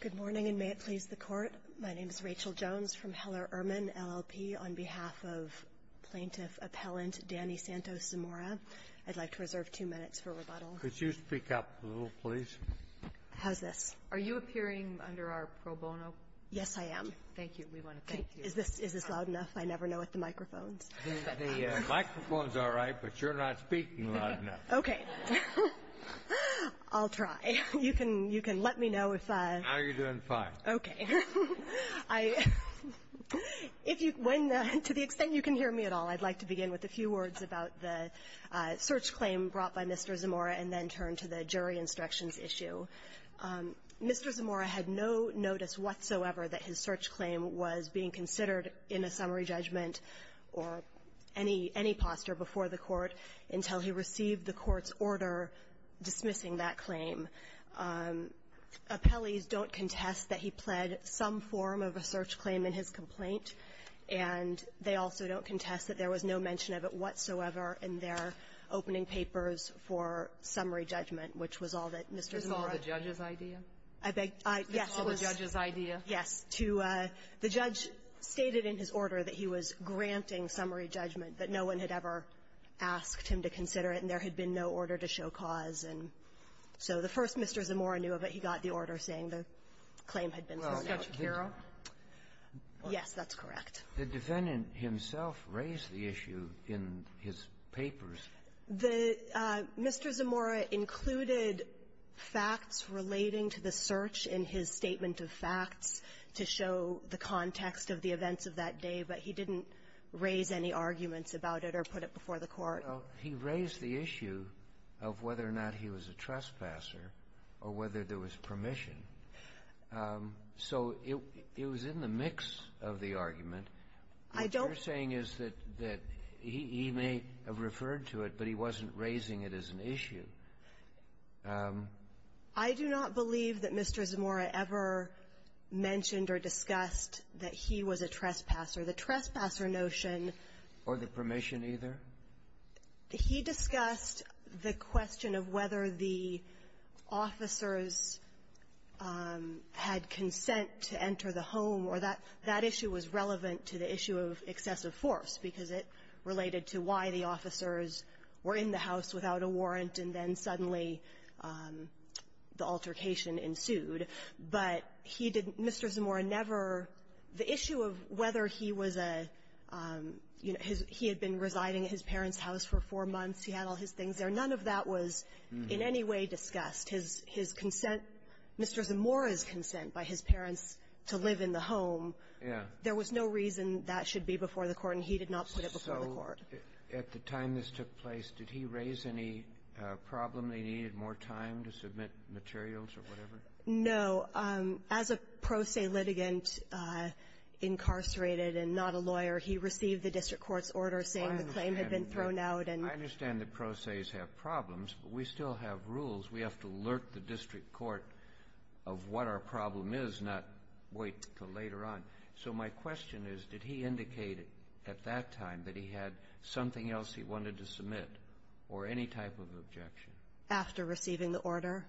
Good morning, and may it please the Court. My name is Rachel Jones from Heller Ehrman LLP. On behalf of Plaintiff Appellant Danny Santos Zamora, I'd like to reserve two minutes for rebuttal. Could you speak up a little, please? How's this? Are you appearing under our pro bono? Yes, I am. Thank you. We want to thank you. Is this loud enough? I never know with the microphones. The microphone's all right, but you're not speaking loud enough. Okay. I'll try. You can let me know if I — No, you're doing fine. Okay. If you — to the extent you can hear me at all, I'd like to begin with a few words about the search claim brought by Mr. Zamora and then turn to the jury instructions issue. Mr. Zamora had no notice whatsoever that his search claim was being considered in a summary judgment or any — any posture before the Court until he received the Court's order dismissing that claim. Appellees don't contest that he pled some form of a search claim in his complaint, and they also don't contest that there was no mention of it whatsoever in their opening papers for summary judgment, which was all that Mr. Zamora — Is this all the judge's idea? I beg — yes, it was — It's all the judge's idea? Yes. To — the judge stated in his order that he was granting summary judgment, that no one had ever asked him to consider it, and there had been no order to show cause. And so the first Mr. Zamora knew of it, he got the order saying the claim had been summarized. Well, the — Yes, that's correct. The defendant himself raised the issue in his papers. The — Mr. Zamora included facts relating to the search in his statement of facts to show the context of the events of that day, but he didn't raise any arguments about it or put it before the Court. He raised the issue of whether or not he was a trespasser or whether there was permission. So it — it was in the mix of the argument. I don't — What you're saying is that he may have referred to it, but he wasn't raising it as an issue. I do not believe that Mr. Zamora ever mentioned or discussed that he was a trespasser. The trespasser notion — Or the permission, either? He discussed the question of whether the officers had consent to enter the home, or That issue was relevant to the issue of excessive force, because it related to why the officers were in the house without a warrant, and then suddenly the altercation ensued. But he didn't — Mr. Zamora never — the issue of whether he was a — he had been residing at his parents' house for four months. He had all his things there. None of that was in any way discussed. His — his consent, Mr. Zamora's consent by his parents to live in the home. Yeah. There was no reason that should be before the Court, and he did not put it before the Court. So at the time this took place, did he raise any problem that he needed more time to submit materials or whatever? No. As a pro se litigant, incarcerated and not a lawyer, he received the district court's order saying the claim had been thrown out and — and alert the district court of what our problem is, not wait until later on. So my question is, did he indicate at that time that he had something else he wanted to submit or any type of objection? After receiving the order.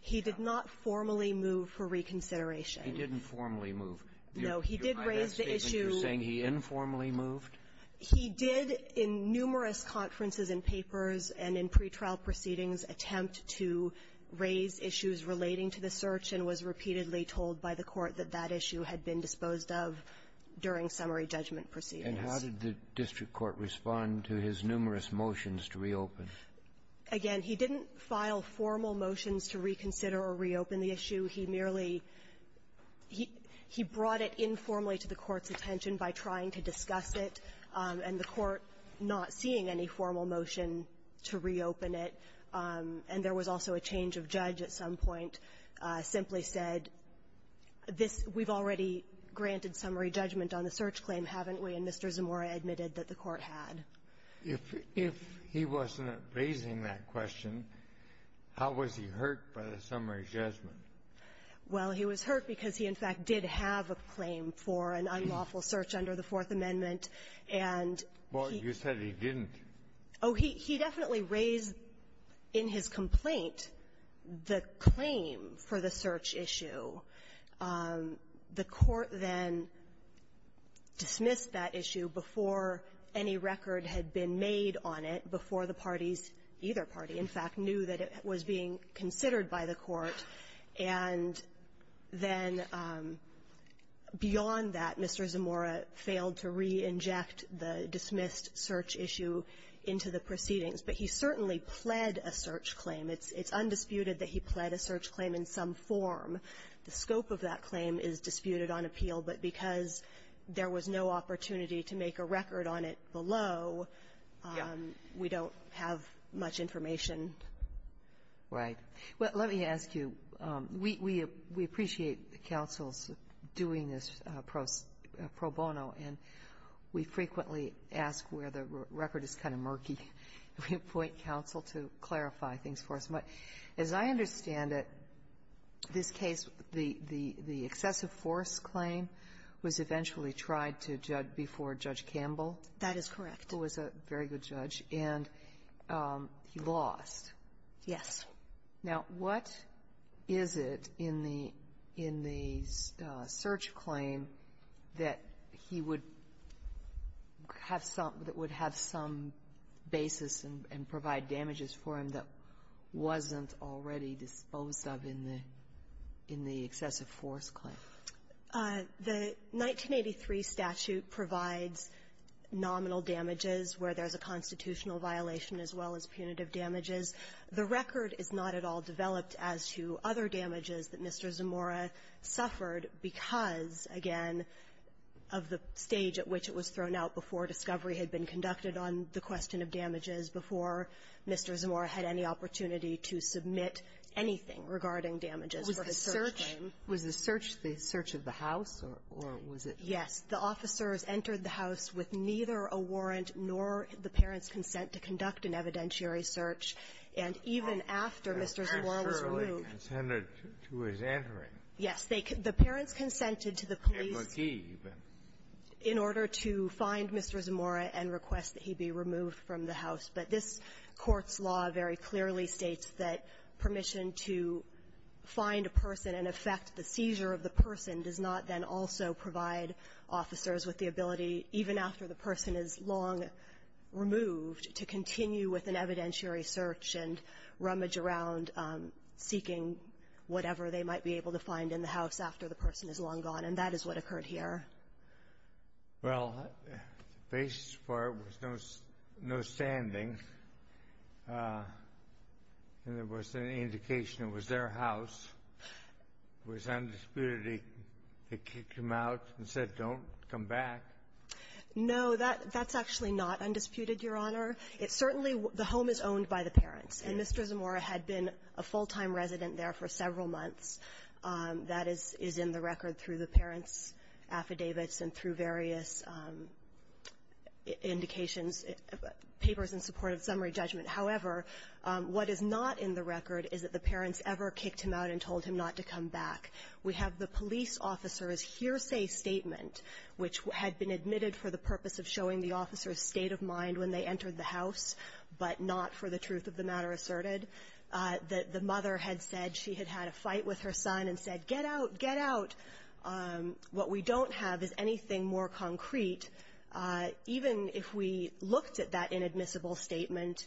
He did not formally move for reconsideration. He didn't formally move. No. He did raise the issue — You're saying he informally moved? He did in numerous conferences and papers and in pretrial proceedings attempt to raise issues relating to the search and was repeatedly told by the Court that that issue had been disposed of during summary judgment proceedings. And how did the district court respond to his numerous motions to reopen? Again, he didn't file formal motions to reconsider or reopen the issue. He merely — he brought it informally to the Court's attention by trying to discuss it, and the Court not seeing any formal motion to reopen it. And there was also a change of judge at some point simply said, this — we've already granted summary judgment on the search claim, haven't we? And Mr. Zamora admitted that the Court had. If — if he wasn't raising that question, how was he hurt by the summary judgment? Well, he was hurt because he, in fact, did have a claim for an unlawful search under the Fourth Amendment. And he — Well, you said he didn't. Oh, he definitely raised in his complaint the claim for the search issue. The Court then dismissed that issue before any record had been made on it, before the parties, either party, in fact, knew that it was being considered by the Court. And then beyond that, Mr. Zamora failed to re-inject the dismissed search issue into the proceedings. But he certainly pled a search claim. It's undisputed that he pled a search claim in some form. The scope of that claim is disputed on appeal, but because there was no opportunity to make a record on it below, we don't have much information. Right. Well, let me ask you, we — we appreciate the counsels doing this pro bono, and we frequently ask where the record is kind of murky. We appoint counsel to clarify things for us. But as I understand it, this case, the — the excessive force claim was eventually tried to judge before Judge Campbell. That is correct. Who was a very good judge. And he lost. Yes. Now, what is it in the — in the search claim that he would have some — that would have some basis and provide damages for him that wasn't already disposed of in the — in the excessive force claim? The 1983 statute provides nominal damages where there's a constitutional violation as well as punitive damages. The record is not at all developed as to other damages that Mr. Zamora suffered because, again, of the stage at which it was thrown out before discovery had been conducted on the question of damages before Mr. Zamora had any opportunity to submit anything regarding damages for his search claim. Was the search the search of the house, or was it — Yes. The parents consented to conduct an evidentiary search. And even after Mr. Zamora was removed — The parents surely consented to his entering. Yes. They — the parents consented to the police — They were key, even. In order to find Mr. Zamora and request that he be removed from the house. But this Court's law very clearly states that permission to find a person and affect the seizure of the person does not then also provide officers with the ability, even after the person is long removed, to continue with an evidentiary search and rummage around seeking whatever they might be able to find in the house after the person is long gone. And that is what occurred here. Well, the basis for it was no — no standing. And there was an indication it was their house. It was undisputed they kicked him out and said, don't come back. No. That's actually not undisputed, Your Honor. It certainly — the home is owned by the parents. And Mr. Zamora had been a full-time resident there for several months. That is — is in the record through the parents' affidavits and through various indications, papers in support of summary judgment. However, what is not in the record is that the parents ever kicked him out and told him not to come back. We have the police officer's hearsay statement, which had been admitted for the purpose of showing the officer's state of mind when they entered the house, but not for the truth of the matter asserted. The mother had said she had had a fight with her son and said, get out, get out. What we don't have is anything more concrete. Even if we looked at that inadmissible statement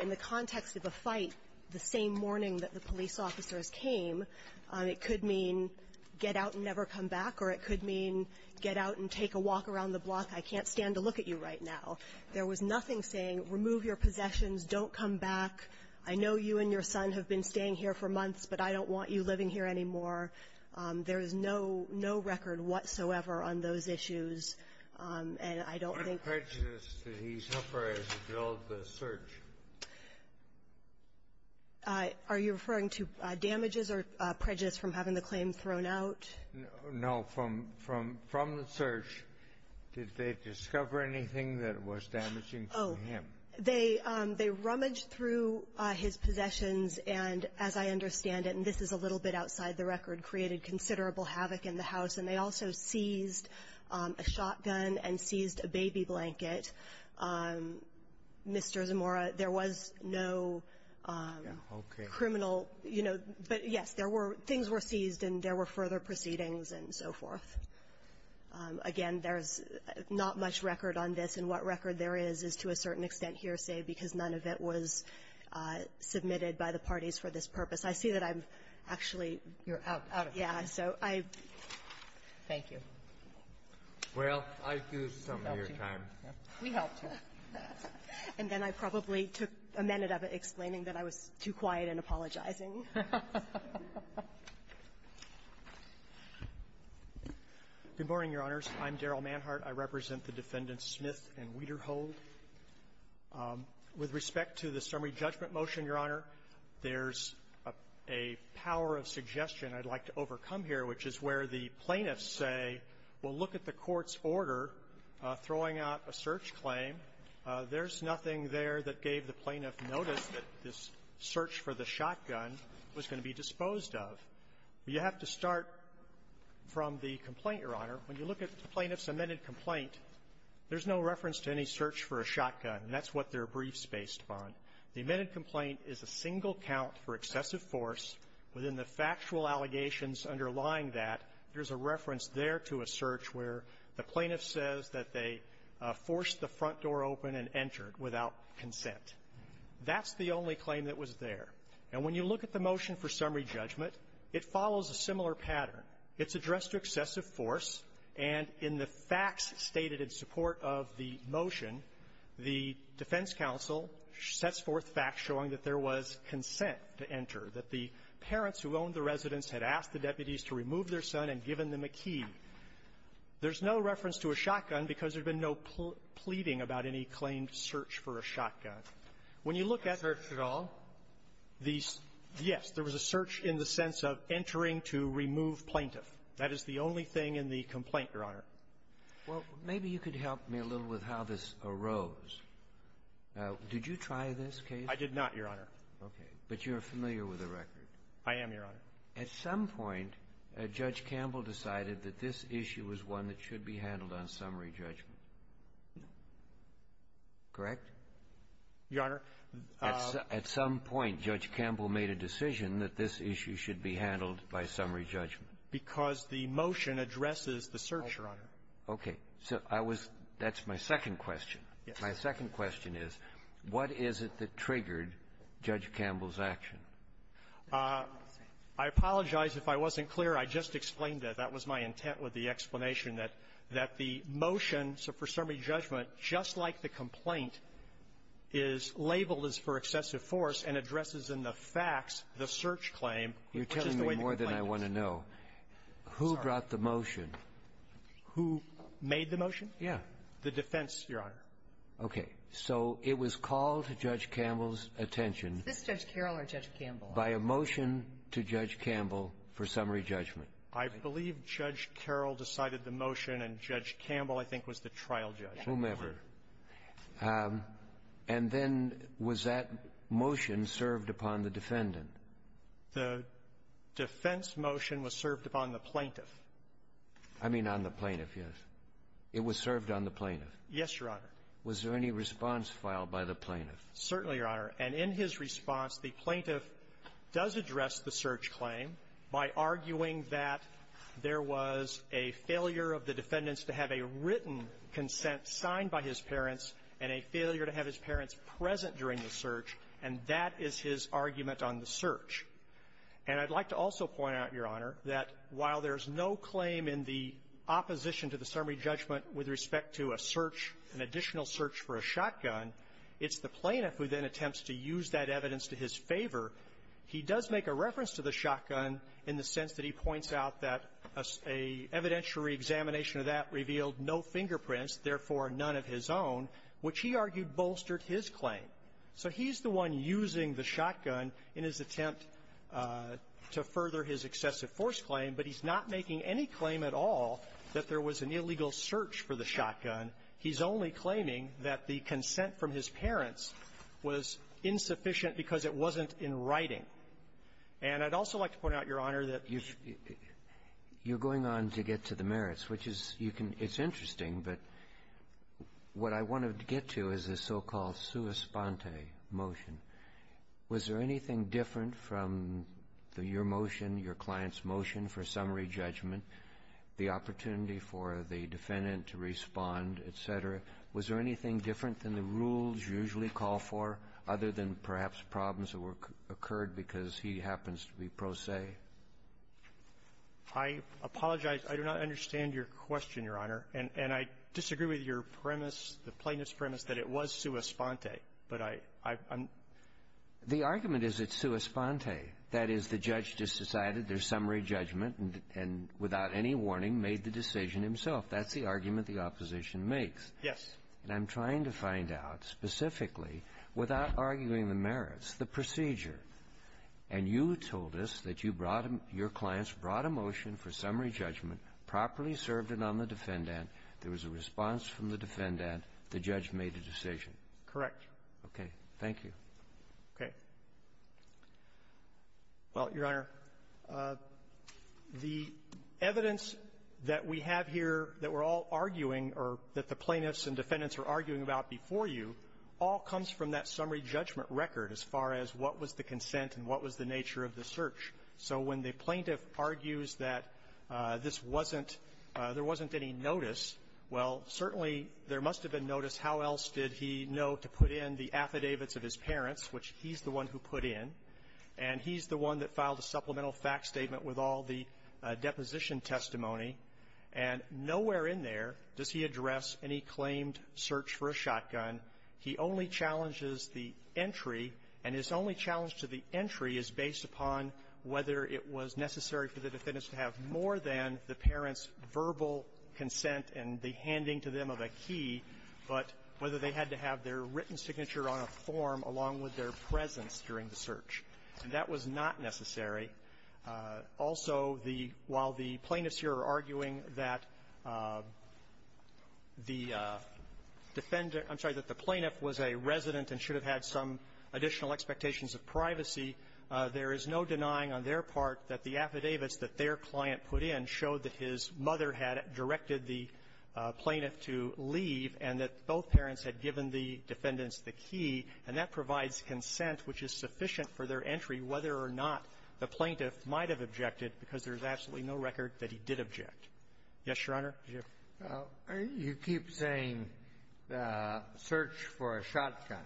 in the context of a fight the same morning that the police officers came, it could mean get out and never come back, or it could mean get out and take a walk around the block. I can't stand to look at you right now. There was nothing saying, remove your possessions, don't come back. I know you and your son have been staying here for months, but I don't want you living here anymore. There is no record whatsoever on those issues. And I don't think- What prejudice did he suffer as he developed the search? Are you referring to damages or prejudice from having the claim thrown out? No, from the search, did they discover anything that was damaging to him? They rummaged through his possessions, and as I understand it, and this is a little bit outside the record, created considerable havoc in the house. And they also seized a shotgun and seized a baby blanket. Mr. Zamora, there was no criminal, you know. But yes, things were seized and there were further proceedings and so forth. Again, there's not much record on this, and what record there is, is to a certain extent hearsay because none of it was submitted by the parties for this purpose. I see that I'm actually- You're out of time. Yeah. So I- Thank you. Well, I do some of your time. We helped you. And then I probably took a minute of explaining that I was too quiet in apologizing. Good morning, Your Honors. I'm Darrell Manhart. I represent the Defendants Smith and Wederhold. With respect to the summary judgment motion, Your Honor, there's a power of suggestion I'd like to overcome here, which is where the plaintiffs say, well, look at the court's order throwing out a search claim. There's nothing there that gave the plaintiff notice that this search for the shotgun was going to be disposed of. You have to start from the complaint, Your Honor. When you look at the plaintiff's amended complaint, there's no reference to any search for a shotgun. That's what their brief's based upon. The amended complaint is a single count for excessive force. Within the factual allegations underlying that, there's a reference there to a search where the plaintiff says that they forced the front door open and entered without consent. That's the only claim that was there. And when you look at the motion for summary judgment, it follows a similar pattern. It's addressed to excessive force. And in the facts stated in support of the motion, the defense counsel sets forth facts showing that there was consent to enter, that the parents who owned the residence had asked the deputies to remove their son and given them a key. There's no reference to a shotgun because there's been no pleading about any claimed search for a shotgun. When you look at the search at all, the yes, there was a search in the sense of entering to remove plaintiff. That is the only thing in the complaint, Your Honor. Well, maybe you could help me a little with how this arose. Did you try this case? I did not, Your Honor. Okay. But you're familiar with the record. I am, Your Honor. At some point, Judge Campbell decided that this issue was one that should be handled on summary judgment. Correct? Your Honor, the ---- Because the motion addresses the search, Your Honor. Okay. So I was ---- that's my second question. Yes. My second question is, what is it that triggered Judge Campbell's action? I apologize if I wasn't clear. I just explained that. That was my intent with the explanation, that the motion, so for summary judgment, just like the complaint, is labeled as for excessive force and addresses in the facts the search claim. You're telling me more than I want to know. Who brought the motion? Who made the motion? Yeah. The defense, Your Honor. Okay. So it was called to Judge Campbell's attention ---- Is this Judge Carroll or Judge Campbell? ---- by a motion to Judge Campbell for summary judgment. I believe Judge Carroll decided the motion, and Judge Campbell, I think, was the trial judge. Whomever. And then was that motion served upon the defendant? The defense motion was served upon the plaintiff. I mean on the plaintiff, yes. It was served on the plaintiff. Yes, Your Honor. Was there any response filed by the plaintiff? Certainly, Your Honor. And in his response, the plaintiff does address the search claim by arguing that there was a failure of the defendants to have a written consent signed by his parents and a failure to have his parents present during the search, and that is his own search. And I'd like to also point out, Your Honor, that while there's no claim in the opposition to the summary judgment with respect to a search, an additional search for a shotgun, it's the plaintiff who then attempts to use that evidence to his favor. He does make a reference to the shotgun in the sense that he points out that an evidentiary examination of that revealed no fingerprints, therefore none of his own, which he argued bolstered his claim. So he's the one using the shotgun in his attempt to further his excessive force claim, but he's not making any claim at all that there was an illegal search for the shotgun. He's only claiming that the consent from his parents was insufficient because it wasn't in writing. And I'd also like to point out, Your Honor, that you've going on to get to the merits, which is you can – it's interesting, but what I wanted to get to is the so-called sua sponte motion. Was there anything different from the – your motion, your client's motion for summary judgment, the opportunity for the defendant to respond, et cetera? Was there anything different than the rules you usually call for, other than perhaps problems that occurred because he happens to be pro se? I apologize. I do not understand your question, Your Honor. And I disagree with your premise, the plaintiff's premise, that it was sua sponte. But I'm – The argument is it's sua sponte. That is, the judge just decided there's summary judgment and without any warning made the decision himself. That's the argument the opposition makes. Yes. And I'm trying to find out specifically, without arguing the merits, the procedure. And you told us that you brought – your clients brought a motion for summary judgment to the defendant. There was a response from the defendant. The judge made a decision. Correct. Okay. Thank you. Okay. Well, Your Honor, the evidence that we have here that we're all arguing or that the plaintiffs and defendants are arguing about before you all comes from that summary judgment record as far as what was the consent and what was the nature of the search. So when the plaintiff argues that this wasn't – there wasn't any notice, well, certainly there must have been notice. How else did he know to put in the affidavits of his parents, which he's the one who put in, and he's the one that filed a supplemental fact statement with all the deposition testimony, and nowhere in there does he address any claimed search for a shotgun. He only challenges the entry, and his only challenge to the entry is based upon whether it was necessary for the defendants to have more than the parents' verbal consent and the handing to them of a key, but whether they had to have their written signature on a form along with their presence during the search. And that was not necessary. Also, the – while the plaintiffs here are arguing that the defendant – I'm sorry, that the plaintiff was a resident and should have had some additional expectations of privacy, there is no denying on their part that the affidavits that their client put in showed that his mother had directed the plaintiff to leave and that both parents had given the defendants the key, and that provides consent which is sufficient for their entry whether or not the plaintiff might have objected, because there's absolutely no record that he did object. Yes, Your Honor? You keep saying search for a shotgun.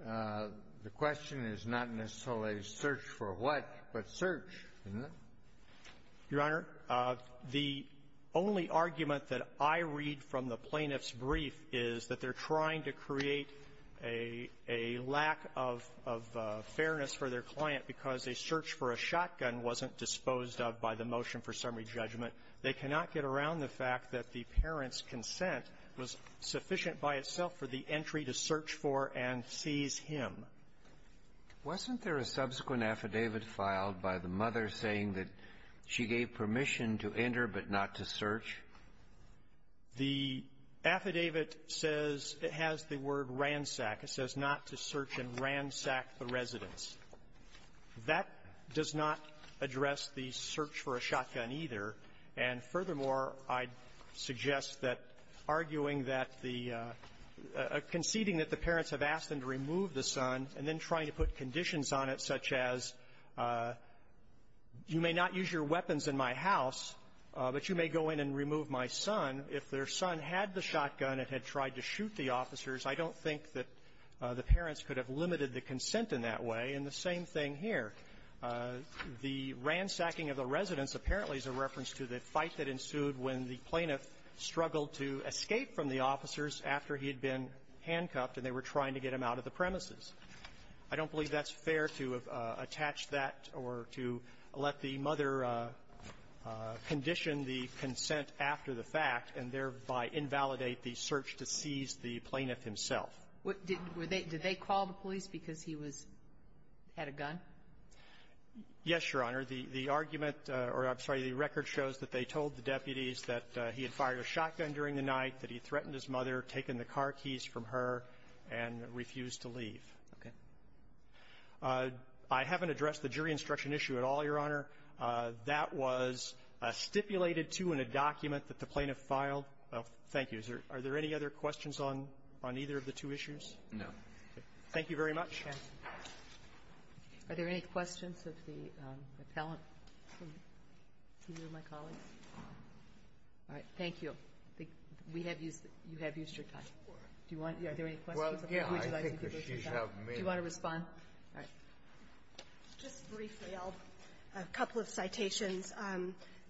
The question is not necessarily search for what, but search, isn't it? Your Honor, the only argument that I read from the plaintiff's brief is that they're trying to create a lack of fairness for their client because a search for a shotgun wasn't disposed of by the motion for summary judgment. They cannot get around the fact that the parent's consent was sufficient by itself for the entry to search for and seize him. Wasn't there a subsequent affidavit filed by the mother saying that she gave permission to enter but not to search? The affidavit says it has the word ransack. It says not to search and ransack the residence. That does not address the search for a shotgun, either. And furthermore, I'd suggest that arguing that the conceding that the parents have asked them to remove the son and then trying to put conditions on it, such as you may not use your weapons in my house, but you may go in and remove my son. If their son had the shotgun and had tried to shoot the officers, I don't think that the parents could have limited the consent in that way. And the same thing here. The ransacking of the residence apparently is a reference to the fight that ensued when the plaintiff struggled to escape from the officers after he had been handcuffed and they were trying to get him out of the premises. I don't believe that's fair to attach that or to let the mother condition the consent after the fact and thereby invalidate the search to seize the plaintiff himself. Did they call the police because he was ---- had a gun? Yes, Your Honor. The argument or, I'm sorry, the record shows that they told the deputies that he had fired a shotgun during the night, that he threatened his mother, taken the car keys from her, and refused to leave. Okay. I haven't addressed the jury instruction issue at all, Your Honor. That was stipulated, too, in a document that the plaintiff filed. Well, thank you. Is there any other questions on either of the two issues? No. Thank you very much. Are there any questions of the appellant from either of my colleagues? All right. Thank you. We have used the ---- you have used your time. Do you want to ---- are there any questions of the individualizing people who used your time? Well, yeah, I think that she's helped me. Do you want to respond? All right. Just briefly, I'll ---- a couple of citations.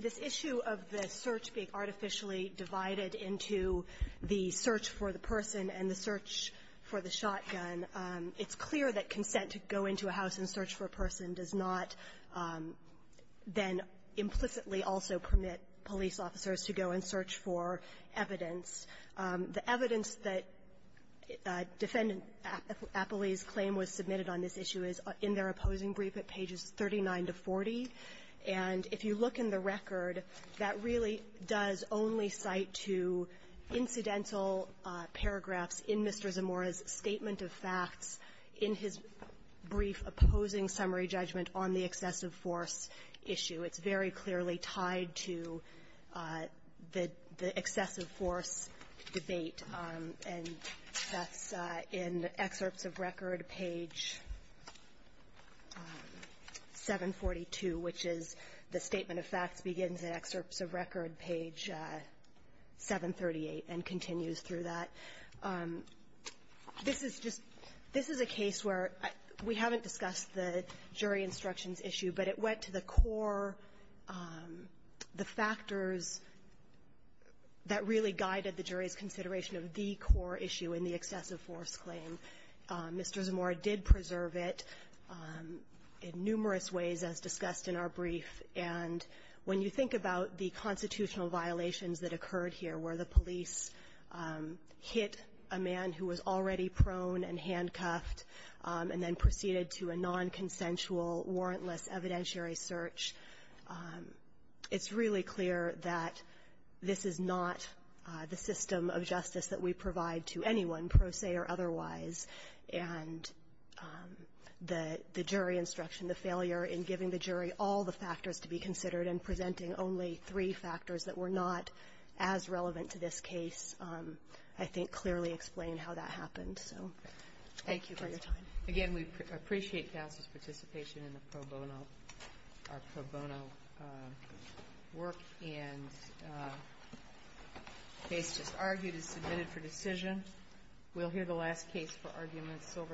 This issue of the search being artificially divided into the search for the person and the search for the shotgun, it's clear that consent to go into a house and search for a person does not then implicitly also permit police officers to go and search for evidence. The evidence that Defendant Appley's claim was submitted on this issue is in their opposing brief at pages 39 to 40. And if you look in the record, that really does only cite to incidental paragraphs in Mr. Zamora's statement of facts in his brief opposing summary judgment on the excessive force issue. It's very clearly tied to the excessive force debate. And that's in excerpts of record page 742, which is the statement of facts begins in excerpts of record page 738 and continues through that. This is just ---- this is a case where we haven't discussed the jury instructions issue, but it went to the core, the factors that really guided the jury's consideration of the core issue in the excessive force claim. Mr. Zamora did preserve it in numerous ways, as discussed in our brief. And when you think about the constitutional violations that occurred here, where the police hit a man who was already prone and handcuffed and then proceeded to a nonconsensual, warrantless evidentiary search, it's really clear that this is not the system of justice that we provide to anyone, pro se or otherwise. And the jury instruction, the failure in giving the jury all the factors to be considered and presenting only three factors that were not as relevant to this case, I think, clearly explained how that happened. So thank you for your time. Again, we appreciate counsel's participation in the pro bono work and the case just submitted for decision. We'll hear the last case for arguments over